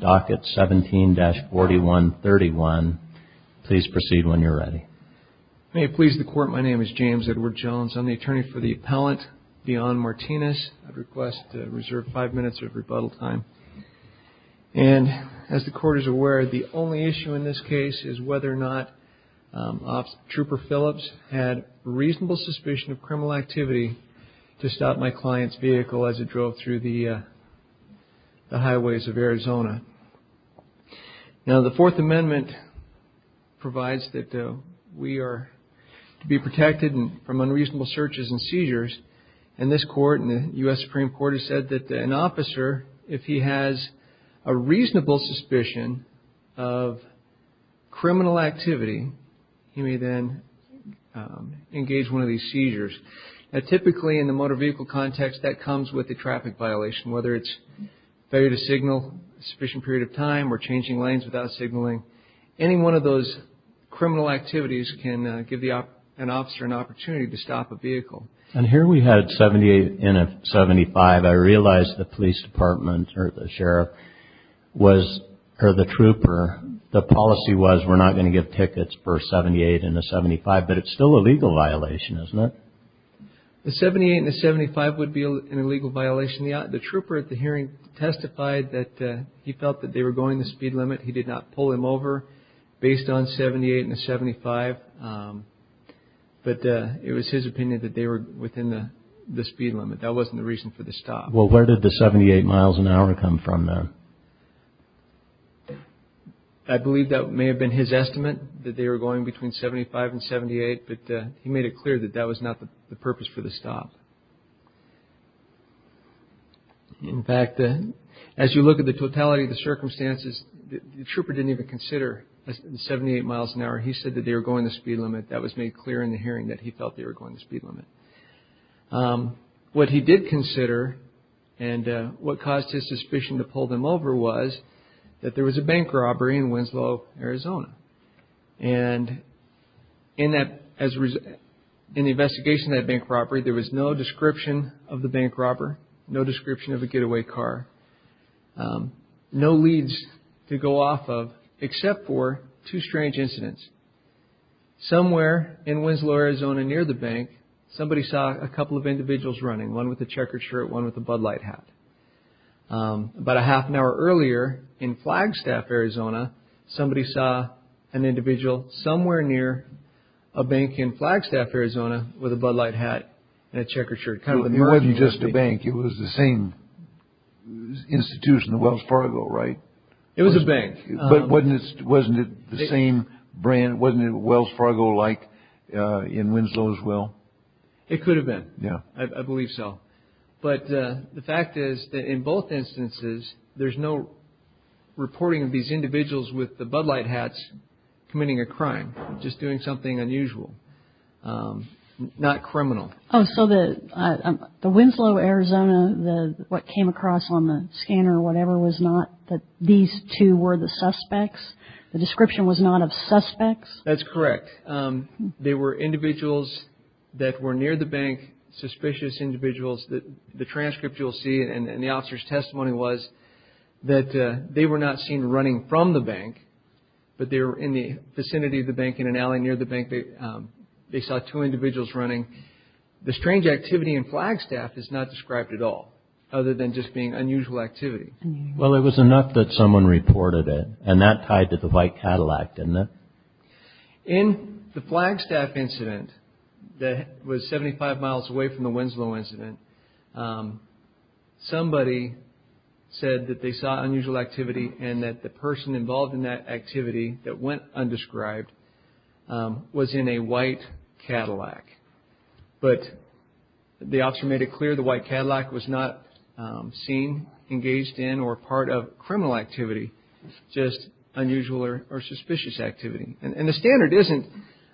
docket 17-4131. Please proceed when you're ready. May it please the court, my name is James Edward Jones. I'm the attorney for the appellant Vion Martinez. I'd request to reserve five minutes of rebuttal time. And as the court is aware, the only issue in this case is whether or not Trooper Phillips had reasonable suspicion of criminal activity to stop my client's vehicle as it drove through the highways of Arizona. Now, the Fourth Amendment provides that we are to be protected from unreasonable searches and seizures. And this court in the U.S. Supreme Court has said that an officer, if he has a reasonable suspicion of criminal activity, he may then engage one of these seizures. Now, typically in the motor vehicle context, that comes with a traffic violation, whether it's failure to signal a sufficient period of time or changing lanes without signaling. Any one of those criminal activities can give an officer an opportunity to stop a vehicle. And here we had 78 and a 75. I realize the police department or the sheriff or the trooper, the policy was we're not going to give tickets for 78 and a 75, but it's still a legal violation, isn't it? The 78 and the 75 would be an illegal violation. The trooper at the hearing testified that he felt that they were going the speed limit. He did not pull him over based on 78 and a 75, but it was his opinion that they were within the speed limit. That wasn't the reason for the stop. Well, where did the 78 miles an hour come from then? I believe that may have been his estimate, that they were going between 75 and 78, but he made it clear that that was not the purpose for the stop. In fact, as you look at the totality of the circumstances, the trooper didn't even consider the 78 miles an hour. He said that they were going the speed limit. That was made clear in the hearing that he felt they were going the speed limit. What he did consider and what caused his suspicion to pull them over was that there was a bank robbery in Winslow, Arizona. In the investigation of that bank robbery, there was no description of the bank robber, no description of a getaway car, no leads to go off of except for two strange incidents. Somewhere in Winslow, Arizona near the bank, somebody saw a couple of individuals running, one with a checkered shirt, one with a Bud Light hat. About a half an hour earlier in Flagstaff, Arizona, somebody saw an individual somewhere near a bank in Flagstaff, Arizona with a Bud Light hat and a checkered shirt. It wasn't just a bank. It was the same institution, Wells Fargo, right? It was a bank. Wasn't it the same brand? Wasn't it Wells Fargo-like in Winslow as well? It could have been. I believe so. But the fact is that in both instances, there's no reporting of these individuals with the Bud Light hats committing a crime, just doing something unusual, not criminal. Oh, so the Winslow, Arizona, what came across on the scanner or whatever was not that these two were the suspects? The description was not of suspects? That's correct. They were individuals that were near the bank, suspicious individuals. The transcript you'll see and the officer's testimony was that they were not seen running from the bank, but they were in the vicinity of the bank in an alley near the bank. They saw two individuals running. The strange activity in Flagstaff is not described at all, other than just being unusual activity. Well, it was enough that someone reported it, and that tied to the White Cadillac, didn't it? In the Flagstaff incident that was 75 miles away from the Winslow incident, somebody said that they saw unusual activity and that the person involved in that activity that went undescribed was in a White Cadillac. But the officer made it clear the White Cadillac was not seen, engaged in, or part of criminal activity, just unusual or suspicious activity. And the standard isn't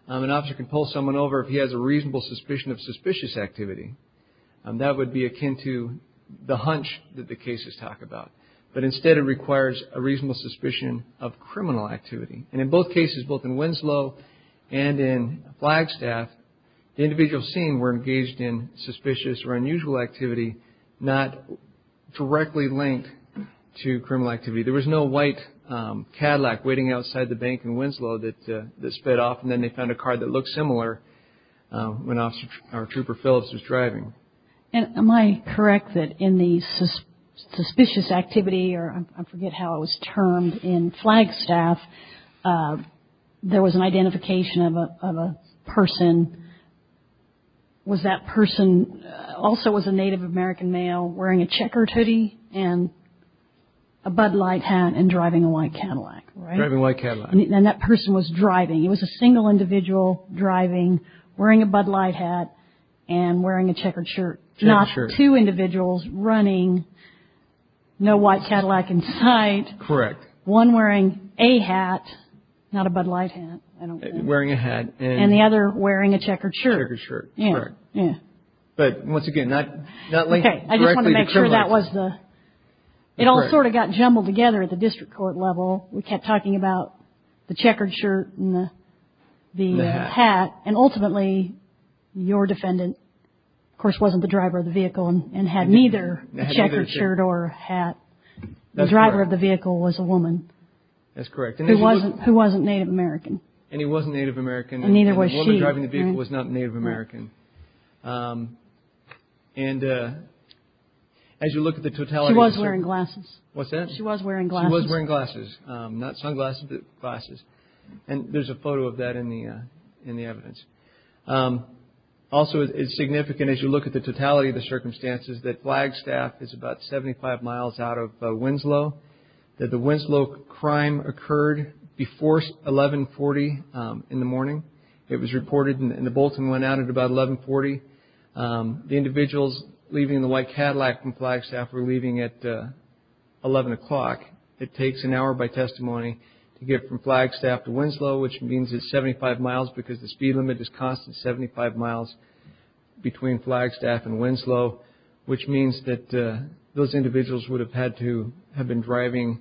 an officer can pull someone over if he has a reasonable suspicion of suspicious activity. That would be akin to the hunch that the cases talk about. But instead it requires a reasonable suspicion of criminal activity. And in both cases, both in Winslow and in Flagstaff, the individuals seen were engaged in suspicious or unusual activity not directly linked to criminal activity. There was no White Cadillac waiting outside the bank in Winslow that sped off, and then they found a car that looked similar when Trooper Phillips was driving. Am I correct that in the suspicious activity, or I forget how it was termed in Flagstaff, was that person also was a Native American male wearing a checkered hoodie and a Bud Light hat and driving a White Cadillac, right? Driving a White Cadillac. And that person was driving. It was a single individual driving, wearing a Bud Light hat and wearing a checkered shirt. Checkered shirt. Not two individuals running, no White Cadillac in sight. Correct. Wearing a hat. And the other wearing a checkered shirt. Checkered shirt. Yeah. But once again, not linked directly to criminal activity. Okay. I just want to make sure that was the – it all sort of got jumbled together at the district court level. We kept talking about the checkered shirt and the hat, and ultimately your defendant, of course, wasn't the driver of the vehicle and had neither a checkered shirt or a hat. The driver of the vehicle was a woman. That's correct. Who wasn't Native American. And he wasn't Native American. And neither was she. And the woman driving the vehicle was not Native American. And as you look at the totality of the – She was wearing glasses. What's that? She was wearing glasses. She was wearing glasses. Not sunglasses, but glasses. And there's a photo of that in the evidence. Also, it's significant as you look at the totality of the circumstances that Flagstaff is about 75 miles out of Winslow, that the Winslow crime occurred before 1140 in the morning. It was reported, and the Bolton went out at about 1140. The individuals leaving the white Cadillac from Flagstaff were leaving at 11 o'clock. It takes an hour by testimony to get from Flagstaff to Winslow, which means it's 75 miles because the speed limit is constant, 75 miles between Flagstaff and Winslow, which means that those individuals would have had to have been driving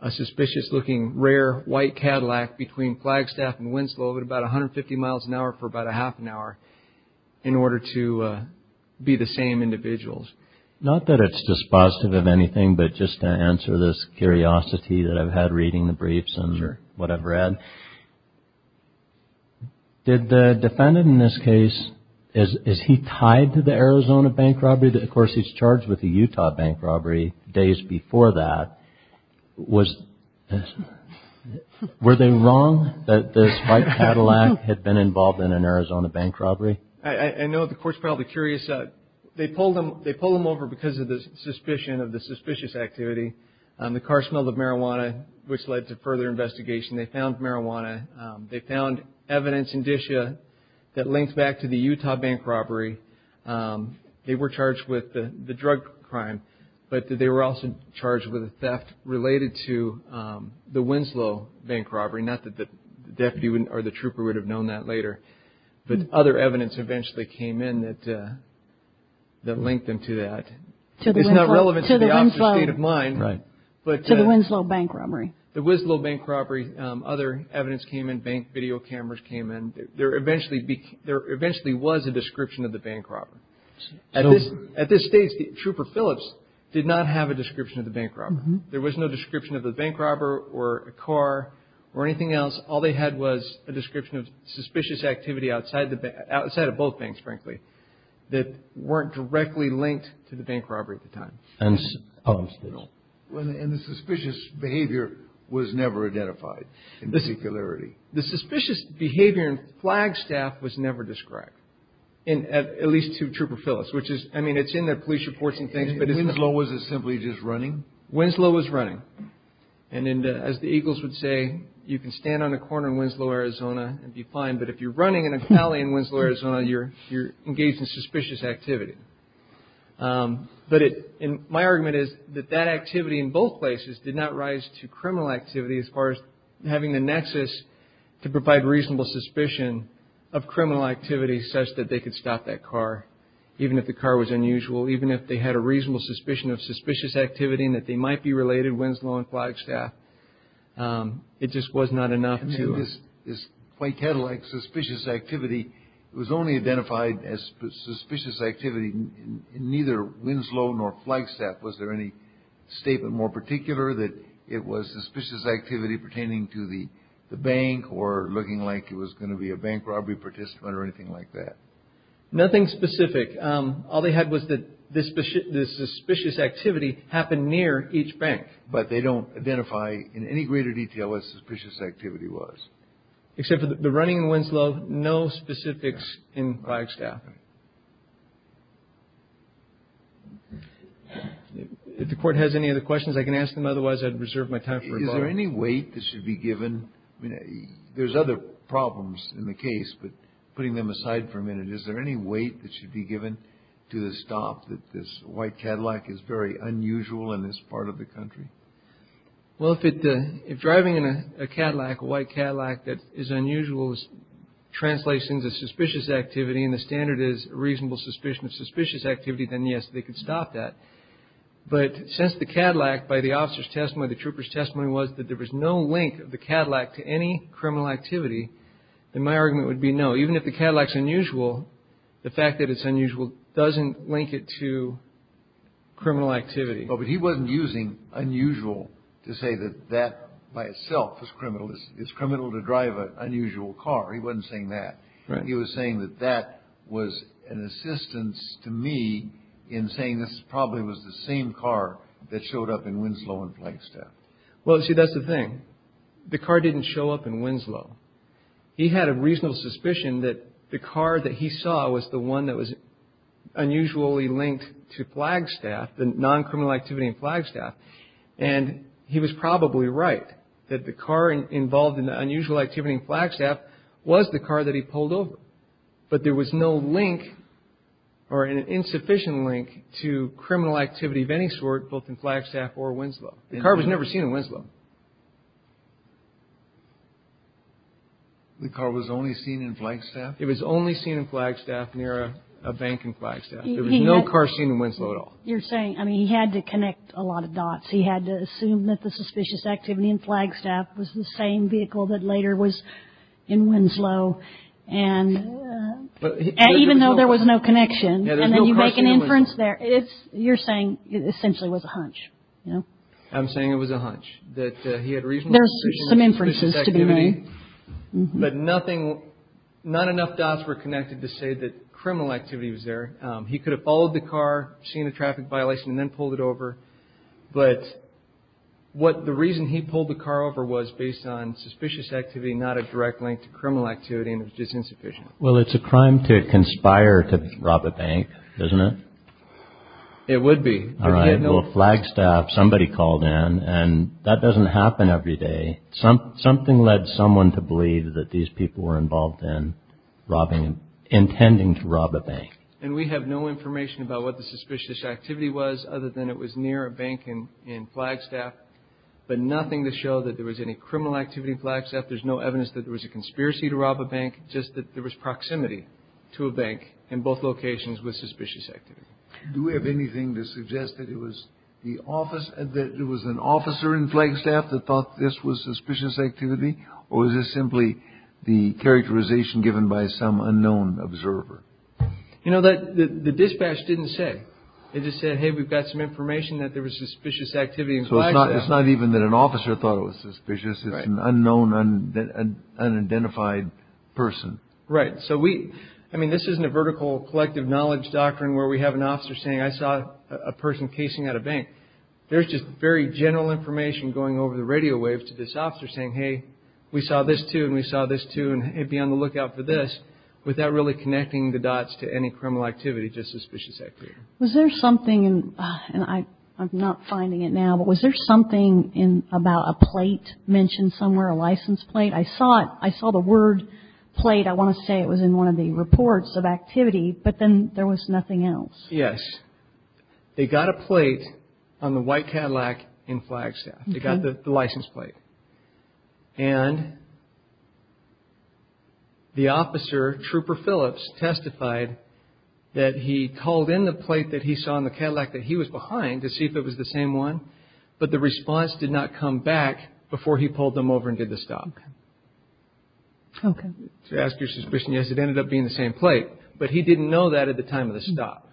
a suspicious-looking rare white Cadillac between Flagstaff and Winslow at about 150 miles an hour for about a half an hour in order to be the same individuals. Not that it's dispositive of anything, but just to answer this curiosity that I've had reading the briefs and what I've read. The defendant in this case, is he tied to the Arizona bank robbery? Of course, he's charged with the Utah bank robbery days before that. Were they wrong that this white Cadillac had been involved in an Arizona bank robbery? I know the court's probably curious. They pulled him over because of the suspicion of the suspicious activity. The car smelled of marijuana, which led to further investigation. They found marijuana. They found evidence in Disha that links back to the Utah bank robbery. They were charged with the drug crime, but they were also charged with a theft related to the Winslow bank robbery. Not that the deputy or the trooper would have known that later, but other evidence eventually came in that linked them to that. It's not relevant to the officer's state of mind. To the Winslow bank robbery. The Winslow bank robbery, other evidence came in, bank video cameras came in. There eventually was a description of the bank robber. At this stage, Trooper Phillips did not have a description of the bank robber. There was no description of the bank robber or a car or anything else. All they had was a description of suspicious activity outside of both banks, frankly, that weren't directly linked to the bank robbery at the time. And the suspicious behavior was never identified in particularity. The suspicious behavior in Flagstaff was never described, at least to Trooper Phillips, which is, I mean, it's in the police reports and things. But Winslow was simply just running. Winslow was running. And as the Eagles would say, you can stand on a corner in Winslow, Arizona and be fine. But if you're running in a valley in Winslow, Arizona, you're engaged in suspicious activity. But my argument is that that activity in both places did not rise to criminal activity as far as having the nexus to provide reasonable suspicion of criminal activity such that they could stop that car. Even if the car was unusual, even if they had a reasonable suspicion of suspicious activity and that they might be related, Winslow and Flagstaff. It just was not enough. This white Cadillac suspicious activity was only identified as suspicious activity in neither Winslow nor Flagstaff. Was there any statement more particular that it was suspicious activity pertaining to the bank or looking like it was going to be a bank robbery participant or anything like that? Nothing specific. All they had was that this suspicious activity happened near each bank. But they don't identify in any greater detail what suspicious activity was. Except for the running in Winslow, no specifics in Flagstaff. If the Court has any other questions, I can ask them. Otherwise, I'd reserve my time for a moment. Is there any weight that should be given? I mean, there's other problems in the case, but putting them aside for a minute, is there any weight that should be given to the stop that this white Cadillac is very unusual in this part of the country? Well, if driving in a Cadillac, a white Cadillac, that is unusual translates into suspicious activity and the standard is reasonable suspicion of suspicious activity, then yes, they could stop that. But since the Cadillac, by the officer's testimony, the trooper's testimony, was that there was no link of the Cadillac to any criminal activity, then my argument would be no. Even if the Cadillac's unusual, the fact that it's unusual doesn't link it to criminal activity. But he wasn't using unusual to say that that by itself is criminal. It's criminal to drive an unusual car. He wasn't saying that. Right. He was saying that that was an assistance to me in saying this probably was the same car that showed up in Winslow and Flagstaff. Well, see, that's the thing. The car didn't show up in Winslow. He had a reasonable suspicion that the car that he saw was the one that was unusually linked to Flagstaff, the non-criminal activity in Flagstaff. And he was probably right, that the car involved in the unusual activity in Flagstaff was the car that he pulled over. But there was no link or an insufficient link to criminal activity of any sort, both in Flagstaff or Winslow. The car was never seen in Winslow. The car was only seen in Flagstaff? It was only seen in Flagstaff near a bank in Flagstaff. There was no car seen in Winslow at all. You're saying, I mean, he had to connect a lot of dots. He had to assume that the suspicious activity in Flagstaff was the same vehicle that later was in Winslow. And even though there was no connection, and then you make an inference there, you're saying it essentially was a hunch. I'm saying it was a hunch. There's some inferences to be made. But not enough dots were connected to say that criminal activity was there. He could have followed the car, seen the traffic violation, and then pulled it over. But the reason he pulled the car over was based on suspicious activity, not a direct link to criminal activity, and it was just insufficient. Well, it's a crime to conspire to rob a bank, isn't it? It would be. All right. Well, Flagstaff, somebody called in, and that doesn't happen every day. Something led someone to believe that these people were involved in robbing, intending to rob a bank. And we have no information about what the suspicious activity was other than it was near a bank in Flagstaff, but nothing to show that there was any criminal activity in Flagstaff. There's no evidence that there was a conspiracy to rob a bank, just that there was proximity to a bank in both locations with suspicious activity. Do we have anything to suggest that it was an officer in Flagstaff that thought this was suspicious activity, or is this simply the characterization given by some unknown observer? You know, the dispatch didn't say. They just said, hey, we've got some information that there was suspicious activity in Flagstaff. So it's not even that an officer thought it was suspicious. It's an unknown, unidentified person. Right. So we I mean, this isn't a vertical collective knowledge doctrine where we have an officer saying, I saw a person casing out a bank. There's just very general information going over the radio waves to this officer saying, hey, we saw this too, and we saw this too, and be on the lookout for this, without really connecting the dots to any criminal activity, just suspicious activity. Was there something, and I'm not finding it now, but was there something about a plate mentioned somewhere, a license plate? I saw it. I saw the word plate. I want to say it was in one of the reports of activity, but then there was nothing else. Yes. They got a plate on the white Cadillac in Flagstaff. They got the license plate. And. The officer, Trooper Phillips, testified that he called in the plate that he saw in the Cadillac, that he was behind to see if it was the same one. But the response did not come back before he pulled them over and did the stop. OK. To ask your suspicion, yes, it ended up being the same plate, but he didn't know that at the time of the stop.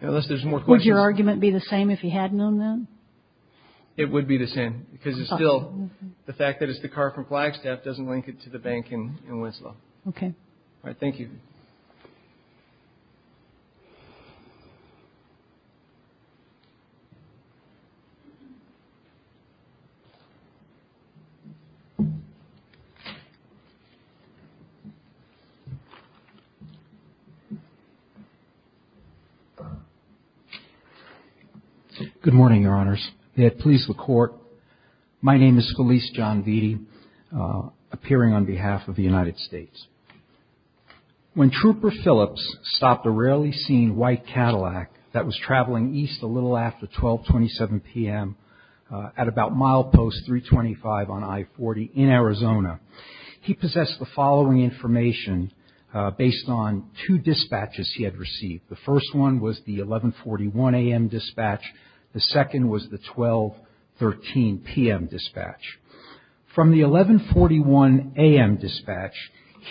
Unless there's more. Would your argument be the same if he had known that? It would be the same because it's still the fact that it's the car from Flagstaff doesn't link it to the bank in Winslow. OK. All right. Thank you. Good morning, Your Honors. The court. My name is Felice John V. Appearing on behalf of the United States. When Trooper Phillips stopped a rarely seen white Cadillac that was traveling east a little after twelve twenty seven p.m. at about milepost three twenty five on I-40 in Arizona, he possessed the following information based on two dispatches he had received. The first one was the eleven forty one a.m. dispatch. The second was the twelve thirteen p.m. dispatch. From the eleven forty one a.m. dispatch,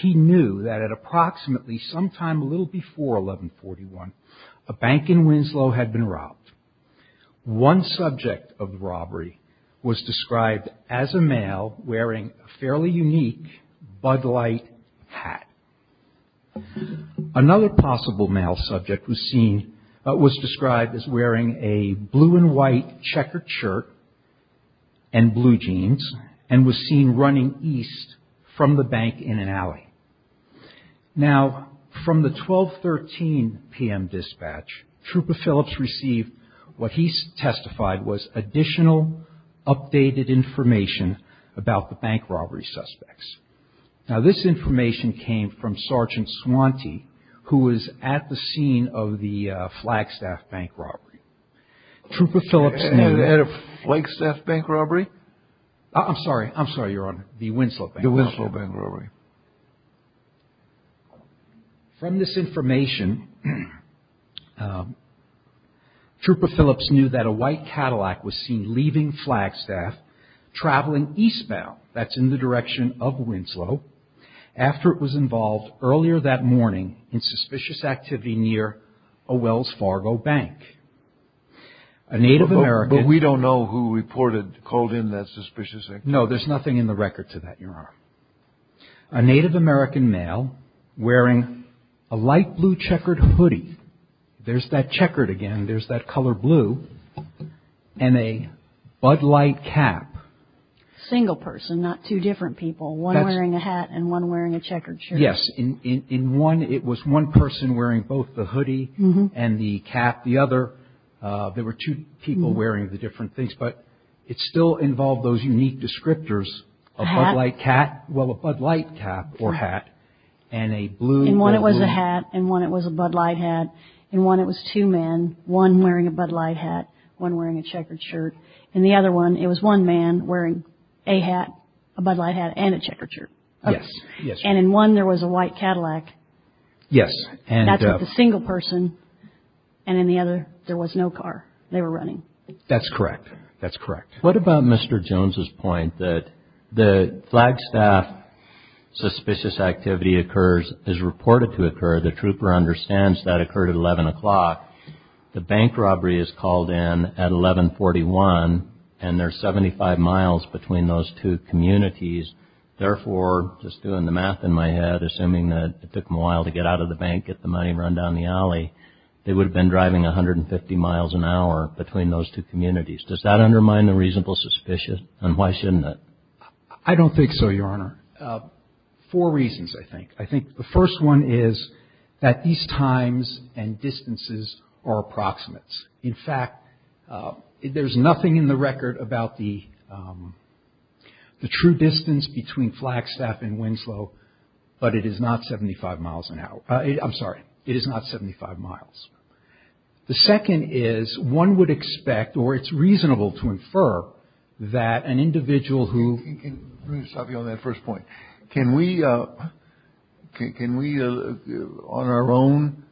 he knew that at approximately sometime a little before eleven forty one, a bank in Winslow had been robbed. One subject of the robbery was described as a male wearing a fairly unique bud light hat. Another possible male subject was seen, was described as wearing a blue and white checkered shirt and blue jeans and was seen running east from the bank in an alley. Now, from the twelve thirteen p.m. dispatch, Trooper Phillips received what he testified was additional updated information about the bank robbery suspects. Now, this information came from Sergeant Swante, who was at the scene of the Flagstaff bank robbery. Trooper Phillips knew that. At a Flagstaff bank robbery? I'm sorry. I'm sorry, Your Honor. The Winslow bank robbery. The Winslow bank robbery. From this information, Trooper Phillips knew that a white Cadillac was seen leaving Flagstaff traveling eastbound. That's in the direction of Winslow after it was involved earlier that morning in suspicious activity near a Wells Fargo bank. A Native American. But we don't know who reported, called in that suspicious activity. No, there's nothing in the record to that, Your Honor. A Native American male wearing a light blue checkered hoodie. There's that checkered again. There's that color blue. And a bud light cap. Single person, not two different people. One wearing a hat and one wearing a checkered shirt. Yes. In one, it was one person wearing both the hoodie and the cap. The other, there were two people wearing the different things. But it still involved those unique descriptors. A hat? A bud light cap or hat. And a blue. In one, it was a hat. In one, it was a bud light hat. In one, it was two men. One wearing a bud light hat. One wearing a checkered shirt. In the other one, it was one man wearing a hat, a bud light hat, and a checkered shirt. Yes. And in one, there was a white Cadillac. Yes. That's with a single person. And in the other, there was no car. They were running. That's correct. That's correct. What about Mr. Jones' point that the Flagstaff suspicious activity is reported to occur. The trooper understands that occurred at 11 o'clock. The bank robbery is called in at 1141 and there's 75 miles between those two communities. Therefore, just doing the math in my head, assuming that it took them a while to get out of the bank, get the money, run down the alley, they would have been driving 150 miles an hour between those two communities. Does that undermine the reasonable suspicion? And why shouldn't it? I don't think so, Your Honor. Four reasons, I think. I think the first one is that these times and distances are approximates. In fact, there's nothing in the record about the true distance between Flagstaff and Winslow, but it is not 75 miles an hour. I'm sorry. It is not 75 miles. The second is one would expect or it's reasonable to infer that an individual who can stop you on that first point. Can we can we on our own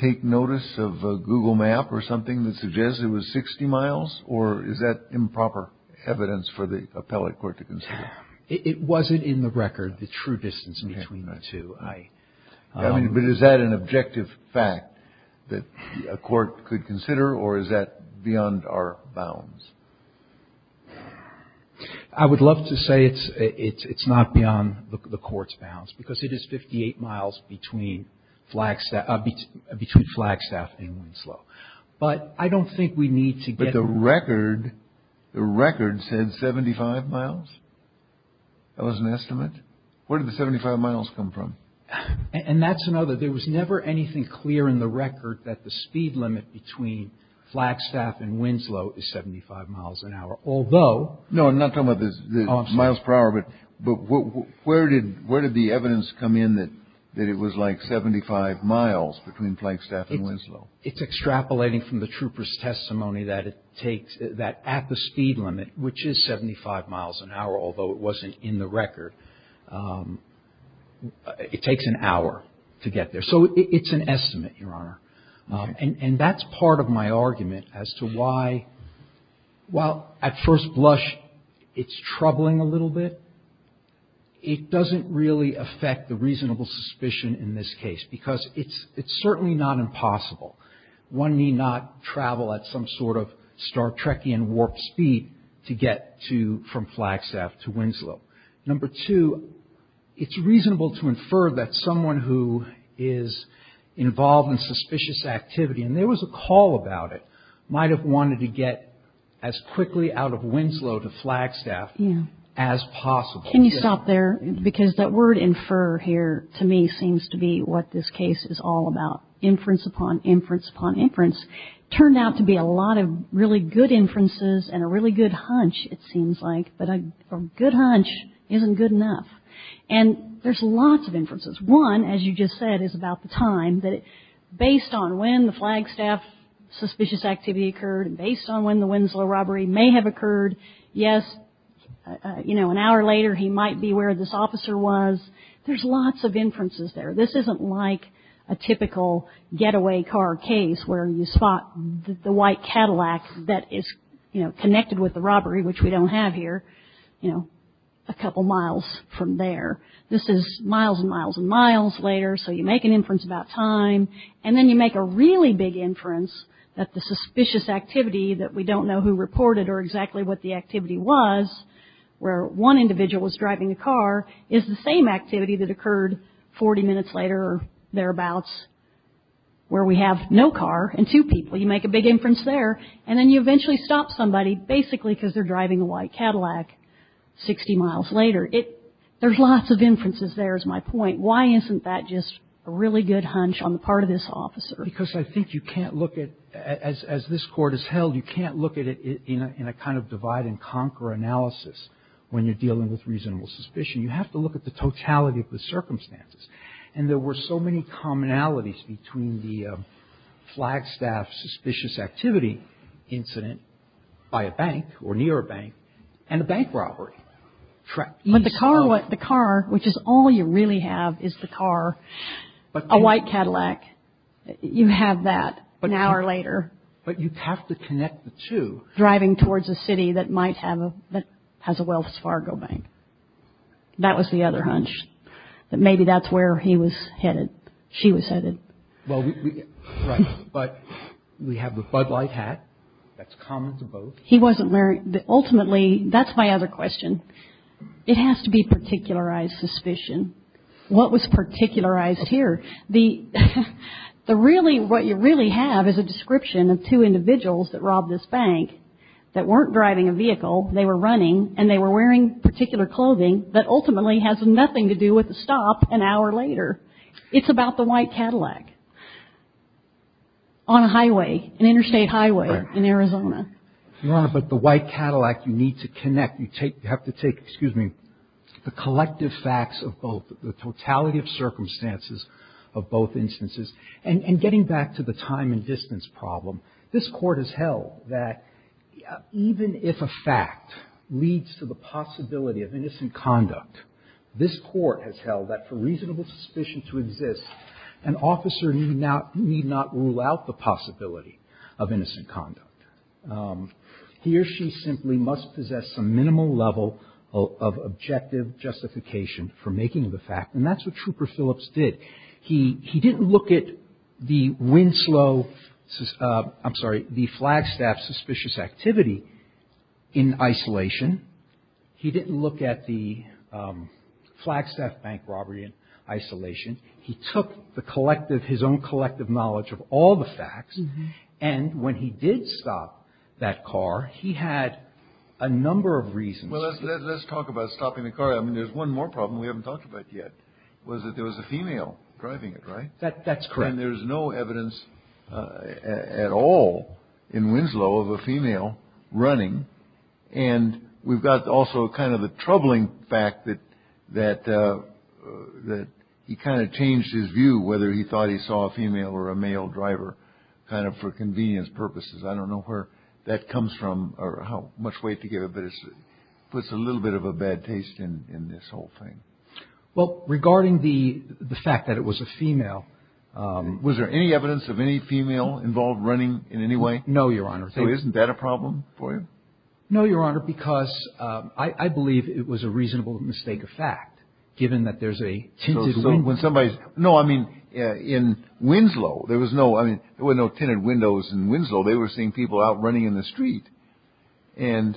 take notice of a Google map or something that suggests it was 60 miles? Or is that improper evidence for the appellate court to consider? It wasn't in the record. The true distance between the two. But is that an objective fact that a court could consider or is that beyond our bounds? I would love to say it's not beyond the court's bounds because it is 58 miles between Flagstaff and Winslow. But I don't think we need to get... But the record said 75 miles? That was an estimate? Where did the 75 miles come from? And that's another. There was never anything clear in the record that the speed limit between Flagstaff and Winslow is 75 miles an hour, although... No, I'm not talking about the miles per hour, but where did the evidence come in that it was like 75 miles between Flagstaff and Winslow? It's extrapolating from the trooper's testimony that it takes... that at the speed limit, which is 75 miles an hour, although it wasn't in the record, it takes an hour to get there. So it's an estimate, Your Honor. And that's part of my argument as to why, while at first blush it's troubling a little bit, it doesn't really affect the reasonable suspicion in this case because it's certainly not impossible. One need not travel at some sort of Star Trekian warp speed to get from Flagstaff to Winslow. Number two, it's reasonable to infer that someone who is involved in suspicious activity, and there was a call about it, might have wanted to get as quickly out of Winslow to Flagstaff as possible. Can you stop there? Because that word infer here, to me, seems to be what this case is all about. Inference upon inference upon inference. Turned out to be a lot of really good inferences and a really good hunch, it seems like, but a good hunch isn't good enough. And there's lots of inferences. One, as you just said, is about the time that based on when the Flagstaff suspicious activity occurred, based on when the Winslow robbery may have occurred, yes, you know, an hour later he might be where this officer was. There's lots of inferences there. This isn't like a typical getaway car case where you spot the white Cadillac that is, you know, connected with the robbery, which we don't have here, you know, a couple miles from there. This is miles and miles and miles later, so you make an inference about time, and then you make a really big inference that the suspicious activity that we don't know who reported or exactly what the activity was, where one individual was driving the car, is the same activity that occurred 40 minutes later or thereabouts, where we have no car and two people. You make a big inference there, and then you eventually stop somebody, basically because they're driving a white Cadillac 60 miles later. There's lots of inferences there is my point. Why isn't that just a really good hunch on the part of this officer? Because I think you can't look at, as this Court has held, you can't look at it in a kind of divide and conquer analysis when you're dealing with reasonable suspicion. You have to look at the totality of the circumstances. And there were so many commonalities between the Flagstaff suspicious activity incident by a bank or near a bank and a bank robbery. But the car, which is all you really have, is the car, a white Cadillac. You have that an hour later. But you have to connect the two. Driving towards a city that might have a, that has a Wells Fargo bank. That was the other hunch, that maybe that's where he was headed, she was headed. Well, right, but we have the Bud Light hat. That's common to both. Ultimately, that's my other question. It has to be particularized suspicion. What was particularized here? The really, what you really have is a description of two individuals that robbed this bank that weren't driving a vehicle, they were running, and they were wearing particular clothing that ultimately has nothing to do with the stop an hour later. It's about the white Cadillac on a highway, an interstate highway in Arizona. Your Honor, but the white Cadillac, you need to connect. You have to take, excuse me, the collective facts of both, the totality of circumstances of both instances. And getting back to the time and distance problem, this Court has held that even if a fact leads to the possibility of innocent conduct, this Court has held that for reasonable suspicion to exist, an officer need not rule out the possibility of innocent conduct. He or she simply must possess a minimal level of objective justification for making the fact. And that's what Trooper Phillips did. He didn't look at the Winslow, I'm sorry, the Flagstaff suspicious activity in isolation. He didn't look at the Flagstaff bank robbery in isolation. He took the collective, his own collective knowledge of all the facts. And when he did stop that car, he had a number of reasons. Well, let's talk about stopping the car. I mean, there's one more problem we haven't talked about yet. Was that there was a female driving it, right? That's correct. And there's no evidence at all in Winslow of a female running. And we've got also kind of a troubling fact that he kind of changed his view, whether he thought he saw a female or a male driver, kind of for convenience purposes. I don't know where that comes from or how much weight to give it, but it puts a little bit of a bad taste in this whole thing. Well, regarding the fact that it was a female, was there any evidence of any female involved running in any way? No, Your Honor. So isn't that a problem for you? No, Your Honor, because I believe it was a reasonable mistake of fact, given that there's a tinted window. When somebody. No, I mean, in Winslow, there was no I mean, there were no tinted windows in Winslow. They were seeing people out running in the street. And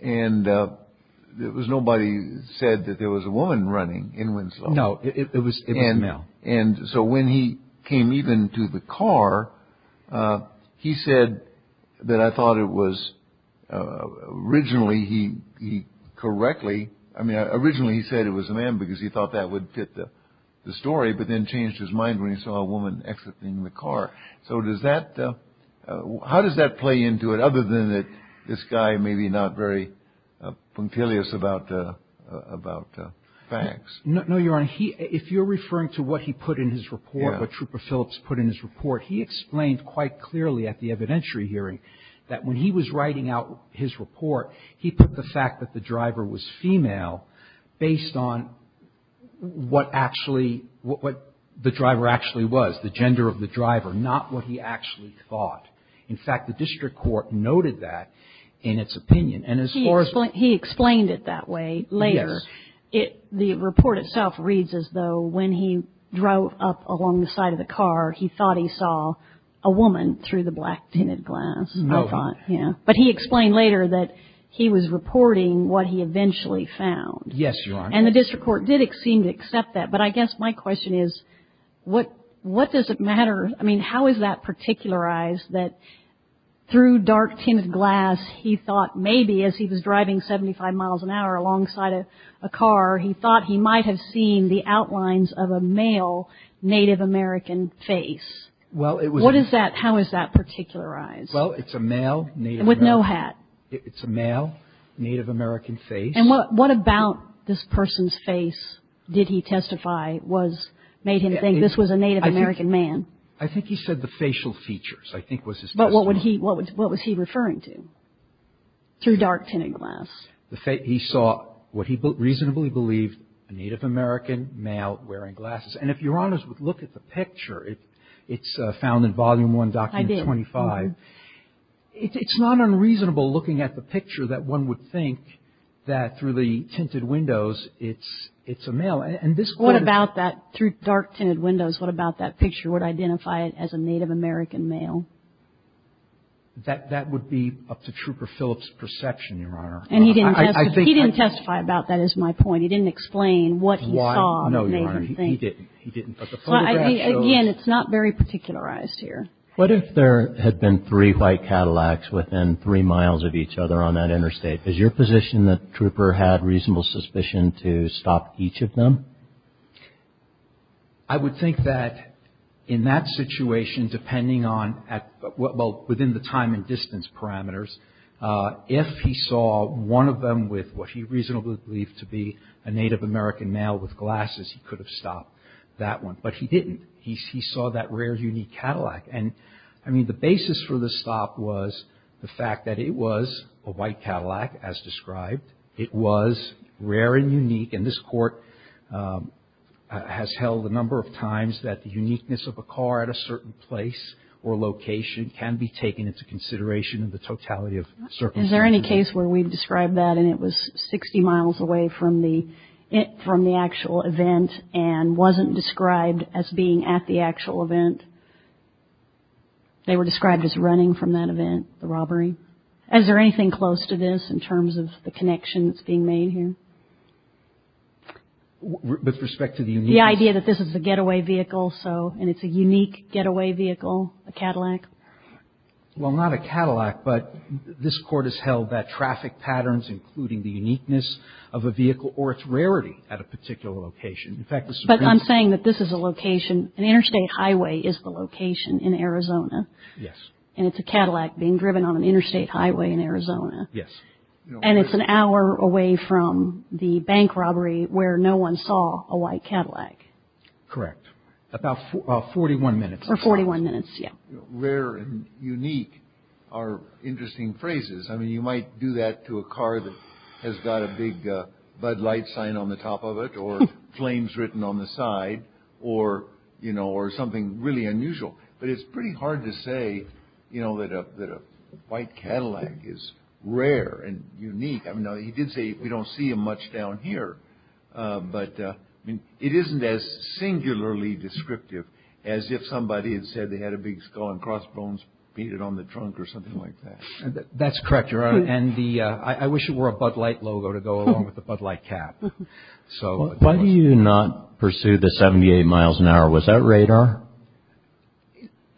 and it was nobody said that there was a woman running in Winslow. No, it was a male. And so when he came even to the car, he said that I thought it was originally he correctly. I mean, originally he said it was a man because he thought that would fit the story. But then changed his mind when he saw a woman exiting the car. So does that. How does that play into it? Other than that, this guy may be not very punctilious about about facts. No, Your Honor. If you're referring to what he put in his report, what Trooper Phillips put in his report, he explained quite clearly at the evidentiary hearing that when he was writing out his report, he put the fact that the driver was female based on what actually what the driver actually was, the gender of the driver, not what he actually thought. In fact, the district court noted that in its opinion. And as far as. He explained it that way later. The report itself reads as though when he drove up along the side of the car, he thought he saw a woman through the black tinted glass. But he explained later that he was reporting what he eventually found. Yes, Your Honor. And the district court did seem to accept that. But I guess my question is, what does it matter? I mean, how is that particularized that through dark tinted glass, he thought maybe as he was driving 75 miles an hour alongside a car, he thought he might have seen the outlines of a male Native American face? Well, it was. What is that? How is that particularized? Well, it's a male Native American. With no hat. It's a male Native American face. And what about this person's face did he testify was made him think this was a Native American man? I think he said the facial features I think was his testimony. But what was he referring to through dark tinted glass? He saw what he reasonably believed, a Native American male wearing glasses. And if Your Honors would look at the picture, it's found in Volume 1, Document 25. It's not unreasonable, looking at the picture, that one would think that through the tinted windows it's a male. What about that, through dark tinted windows, what about that picture would identify it as a Native American male? That would be up to Trooper Phillips' perception, Your Honor. He didn't testify about that is my point. He didn't explain what he saw. No, Your Honor. He didn't. Again, it's not very particularized here. What if there had been three white Cadillacs within three miles of each other on that interstate? Is your position that Trooper had reasonable suspicion to stop each of them? I would think that in that situation, depending on, well, within the time and distance parameters, if he saw one of them with what he reasonably believed to be a Native American male with glasses, he could have stopped that one. But he didn't. He saw that rare, unique Cadillac. And, I mean, the basis for the stop was the fact that it was a white Cadillac, as described. It was rare and unique. And this Court has held a number of times that the uniqueness of a car at a certain place or location can be taken into consideration in the totality of circumstances. Is there any case where we've described that and it was 60 miles away from the actual event and wasn't described as being at the actual event? They were described as running from that event, the robbery. Is there anything close to this in terms of the connection that's being made here? With respect to the uniqueness? The idea that this is a getaway vehicle, so, and it's a unique getaway vehicle, a Cadillac. Well, not a Cadillac, but this Court has held that traffic patterns, including the uniqueness of a vehicle or its rarity at a particular location. But I'm saying that this is a location, an interstate highway is the location in Arizona. Yes. And it's a Cadillac being driven on an interstate highway in Arizona. Yes. And it's an hour away from the bank robbery where no one saw a white Cadillac. Correct. About 41 minutes. For 41 minutes, yeah. Rare and unique are interesting phrases. I mean, you might do that to a car that has got a big Bud Light sign on the top of it or flames written on the side or, you know, or something really unusual. But it's pretty hard to say, you know, that a white Cadillac is rare and unique. I mean, he did say we don't see them much down here. But it isn't as singularly descriptive as if somebody had said they had a big skull and crossbones painted on the trunk or something like that. That's correct, Your Honor. And I wish it were a Bud Light logo to go along with the Bud Light cap. Why do you not pursue the 78 miles an hour? Was that radar?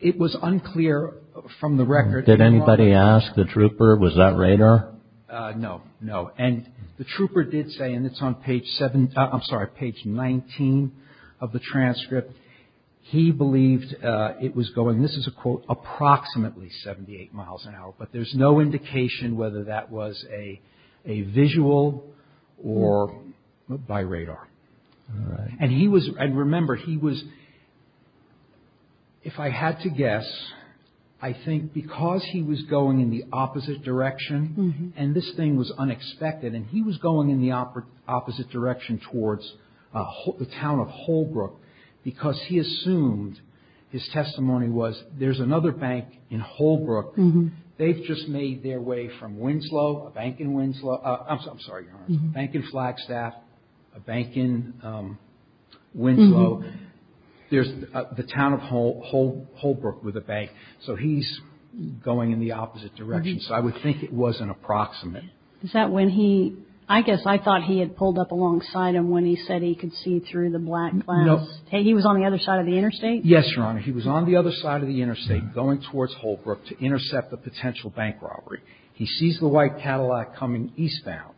It was unclear from the record. Did anybody ask the trooper, was that radar? No, no. And the trooper did say, and it's on page 19 of the transcript, he believed it was going, and this is a quote, approximately 78 miles an hour, but there's no indication whether that was a visual or by radar. And he was, and remember, he was, if I had to guess, I think because he was going in the opposite direction, and this thing was unexpected, and he was going in the opposite direction towards the town of Holbrook because he assumed his testimony was there's another bank in Holbrook. They've just made their way from Winslow, a bank in Winslow, I'm sorry, Your Honor, a bank in Flagstaff, a bank in Winslow. There's the town of Holbrook with a bank. So he's going in the opposite direction. So I would think it was an approximate. Is that when he, I guess I thought he had pulled up alongside him when he said he could see through the black clouds. He was on the other side of the interstate? Yes, Your Honor. He was on the other side of the interstate going towards Holbrook to intercept a potential bank robbery. He sees the white Cadillac coming eastbound.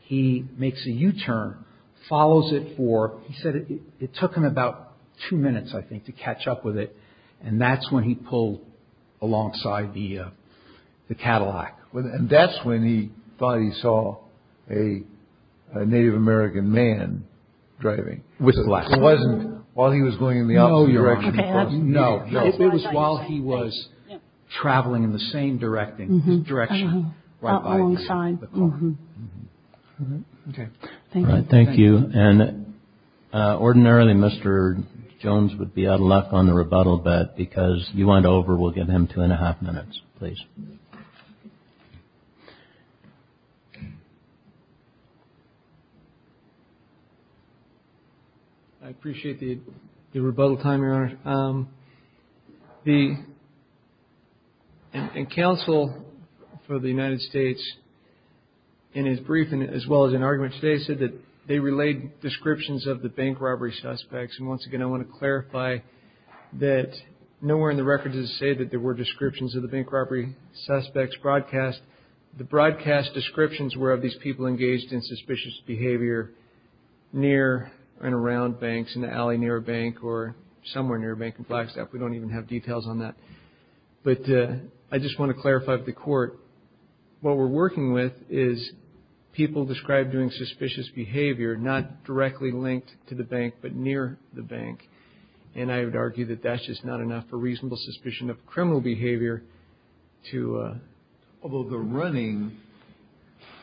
He makes a U-turn, follows it for, he said it took him about two minutes, I think, to catch up with it, and that's when he pulled alongside the Cadillac. And that's when he thought he saw a Native American man driving. With a black Cadillac. So it wasn't while he was going in the opposite direction. No, Your Honor. No, no. It was while he was traveling in the same direction. Alongside. Right by the car. Okay. Thank you. Thank you. And ordinarily Mr. Jones would be out of luck on the rebuttal bet because you went over, we'll give him two and a half minutes, please. Okay. I appreciate the rebuttal time, Your Honor. The counsel for the United States in his briefing as well as in argument today said that they relayed descriptions of the bank robbery suspects. And once again I want to clarify that nowhere in the record does it say that there were descriptions of the bank robbery suspects broadcast. The broadcast descriptions were of these people engaged in suspicious behavior near and around banks in an alley near a bank or somewhere near a bank in Flagstaff. We don't even have details on that. But I just want to clarify to the Court what we're working with is people described doing suspicious behavior not directly linked to the bank but near the bank. And I would argue that that's just not enough for reasonable suspicion of criminal behavior to Although the running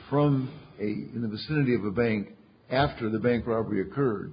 from a, in the vicinity of a bank after the bank robbery occurred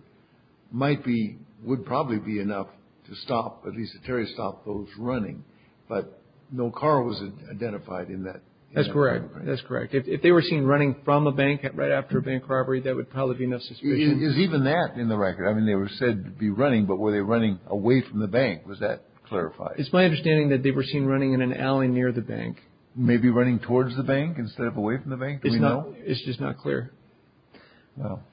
might be, would probably be enough to stop, at least to stop those running. But no car was identified in that. That's correct. That's correct. If they were seen running from a bank right after a bank robbery, that would probably be enough suspicion. Is even that in the record? I mean they were said to be running, but were they running away from the bank? Was that clarified? It's my understanding that they were seen running in an alley near the bank. Maybe running towards the bank instead of away from the bank? Do we know? It's just not clear.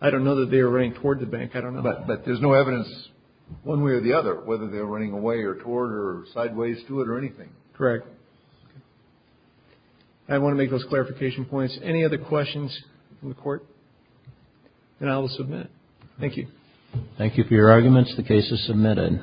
I don't know that they were running toward the bank. I don't know. But there's no evidence one way or the other whether they were running away or toward or sideways to it or anything. Correct. I want to make those clarification points. Any other questions from the Court? Then I will submit. Thank you. Thank you for your arguments. The case is submitted.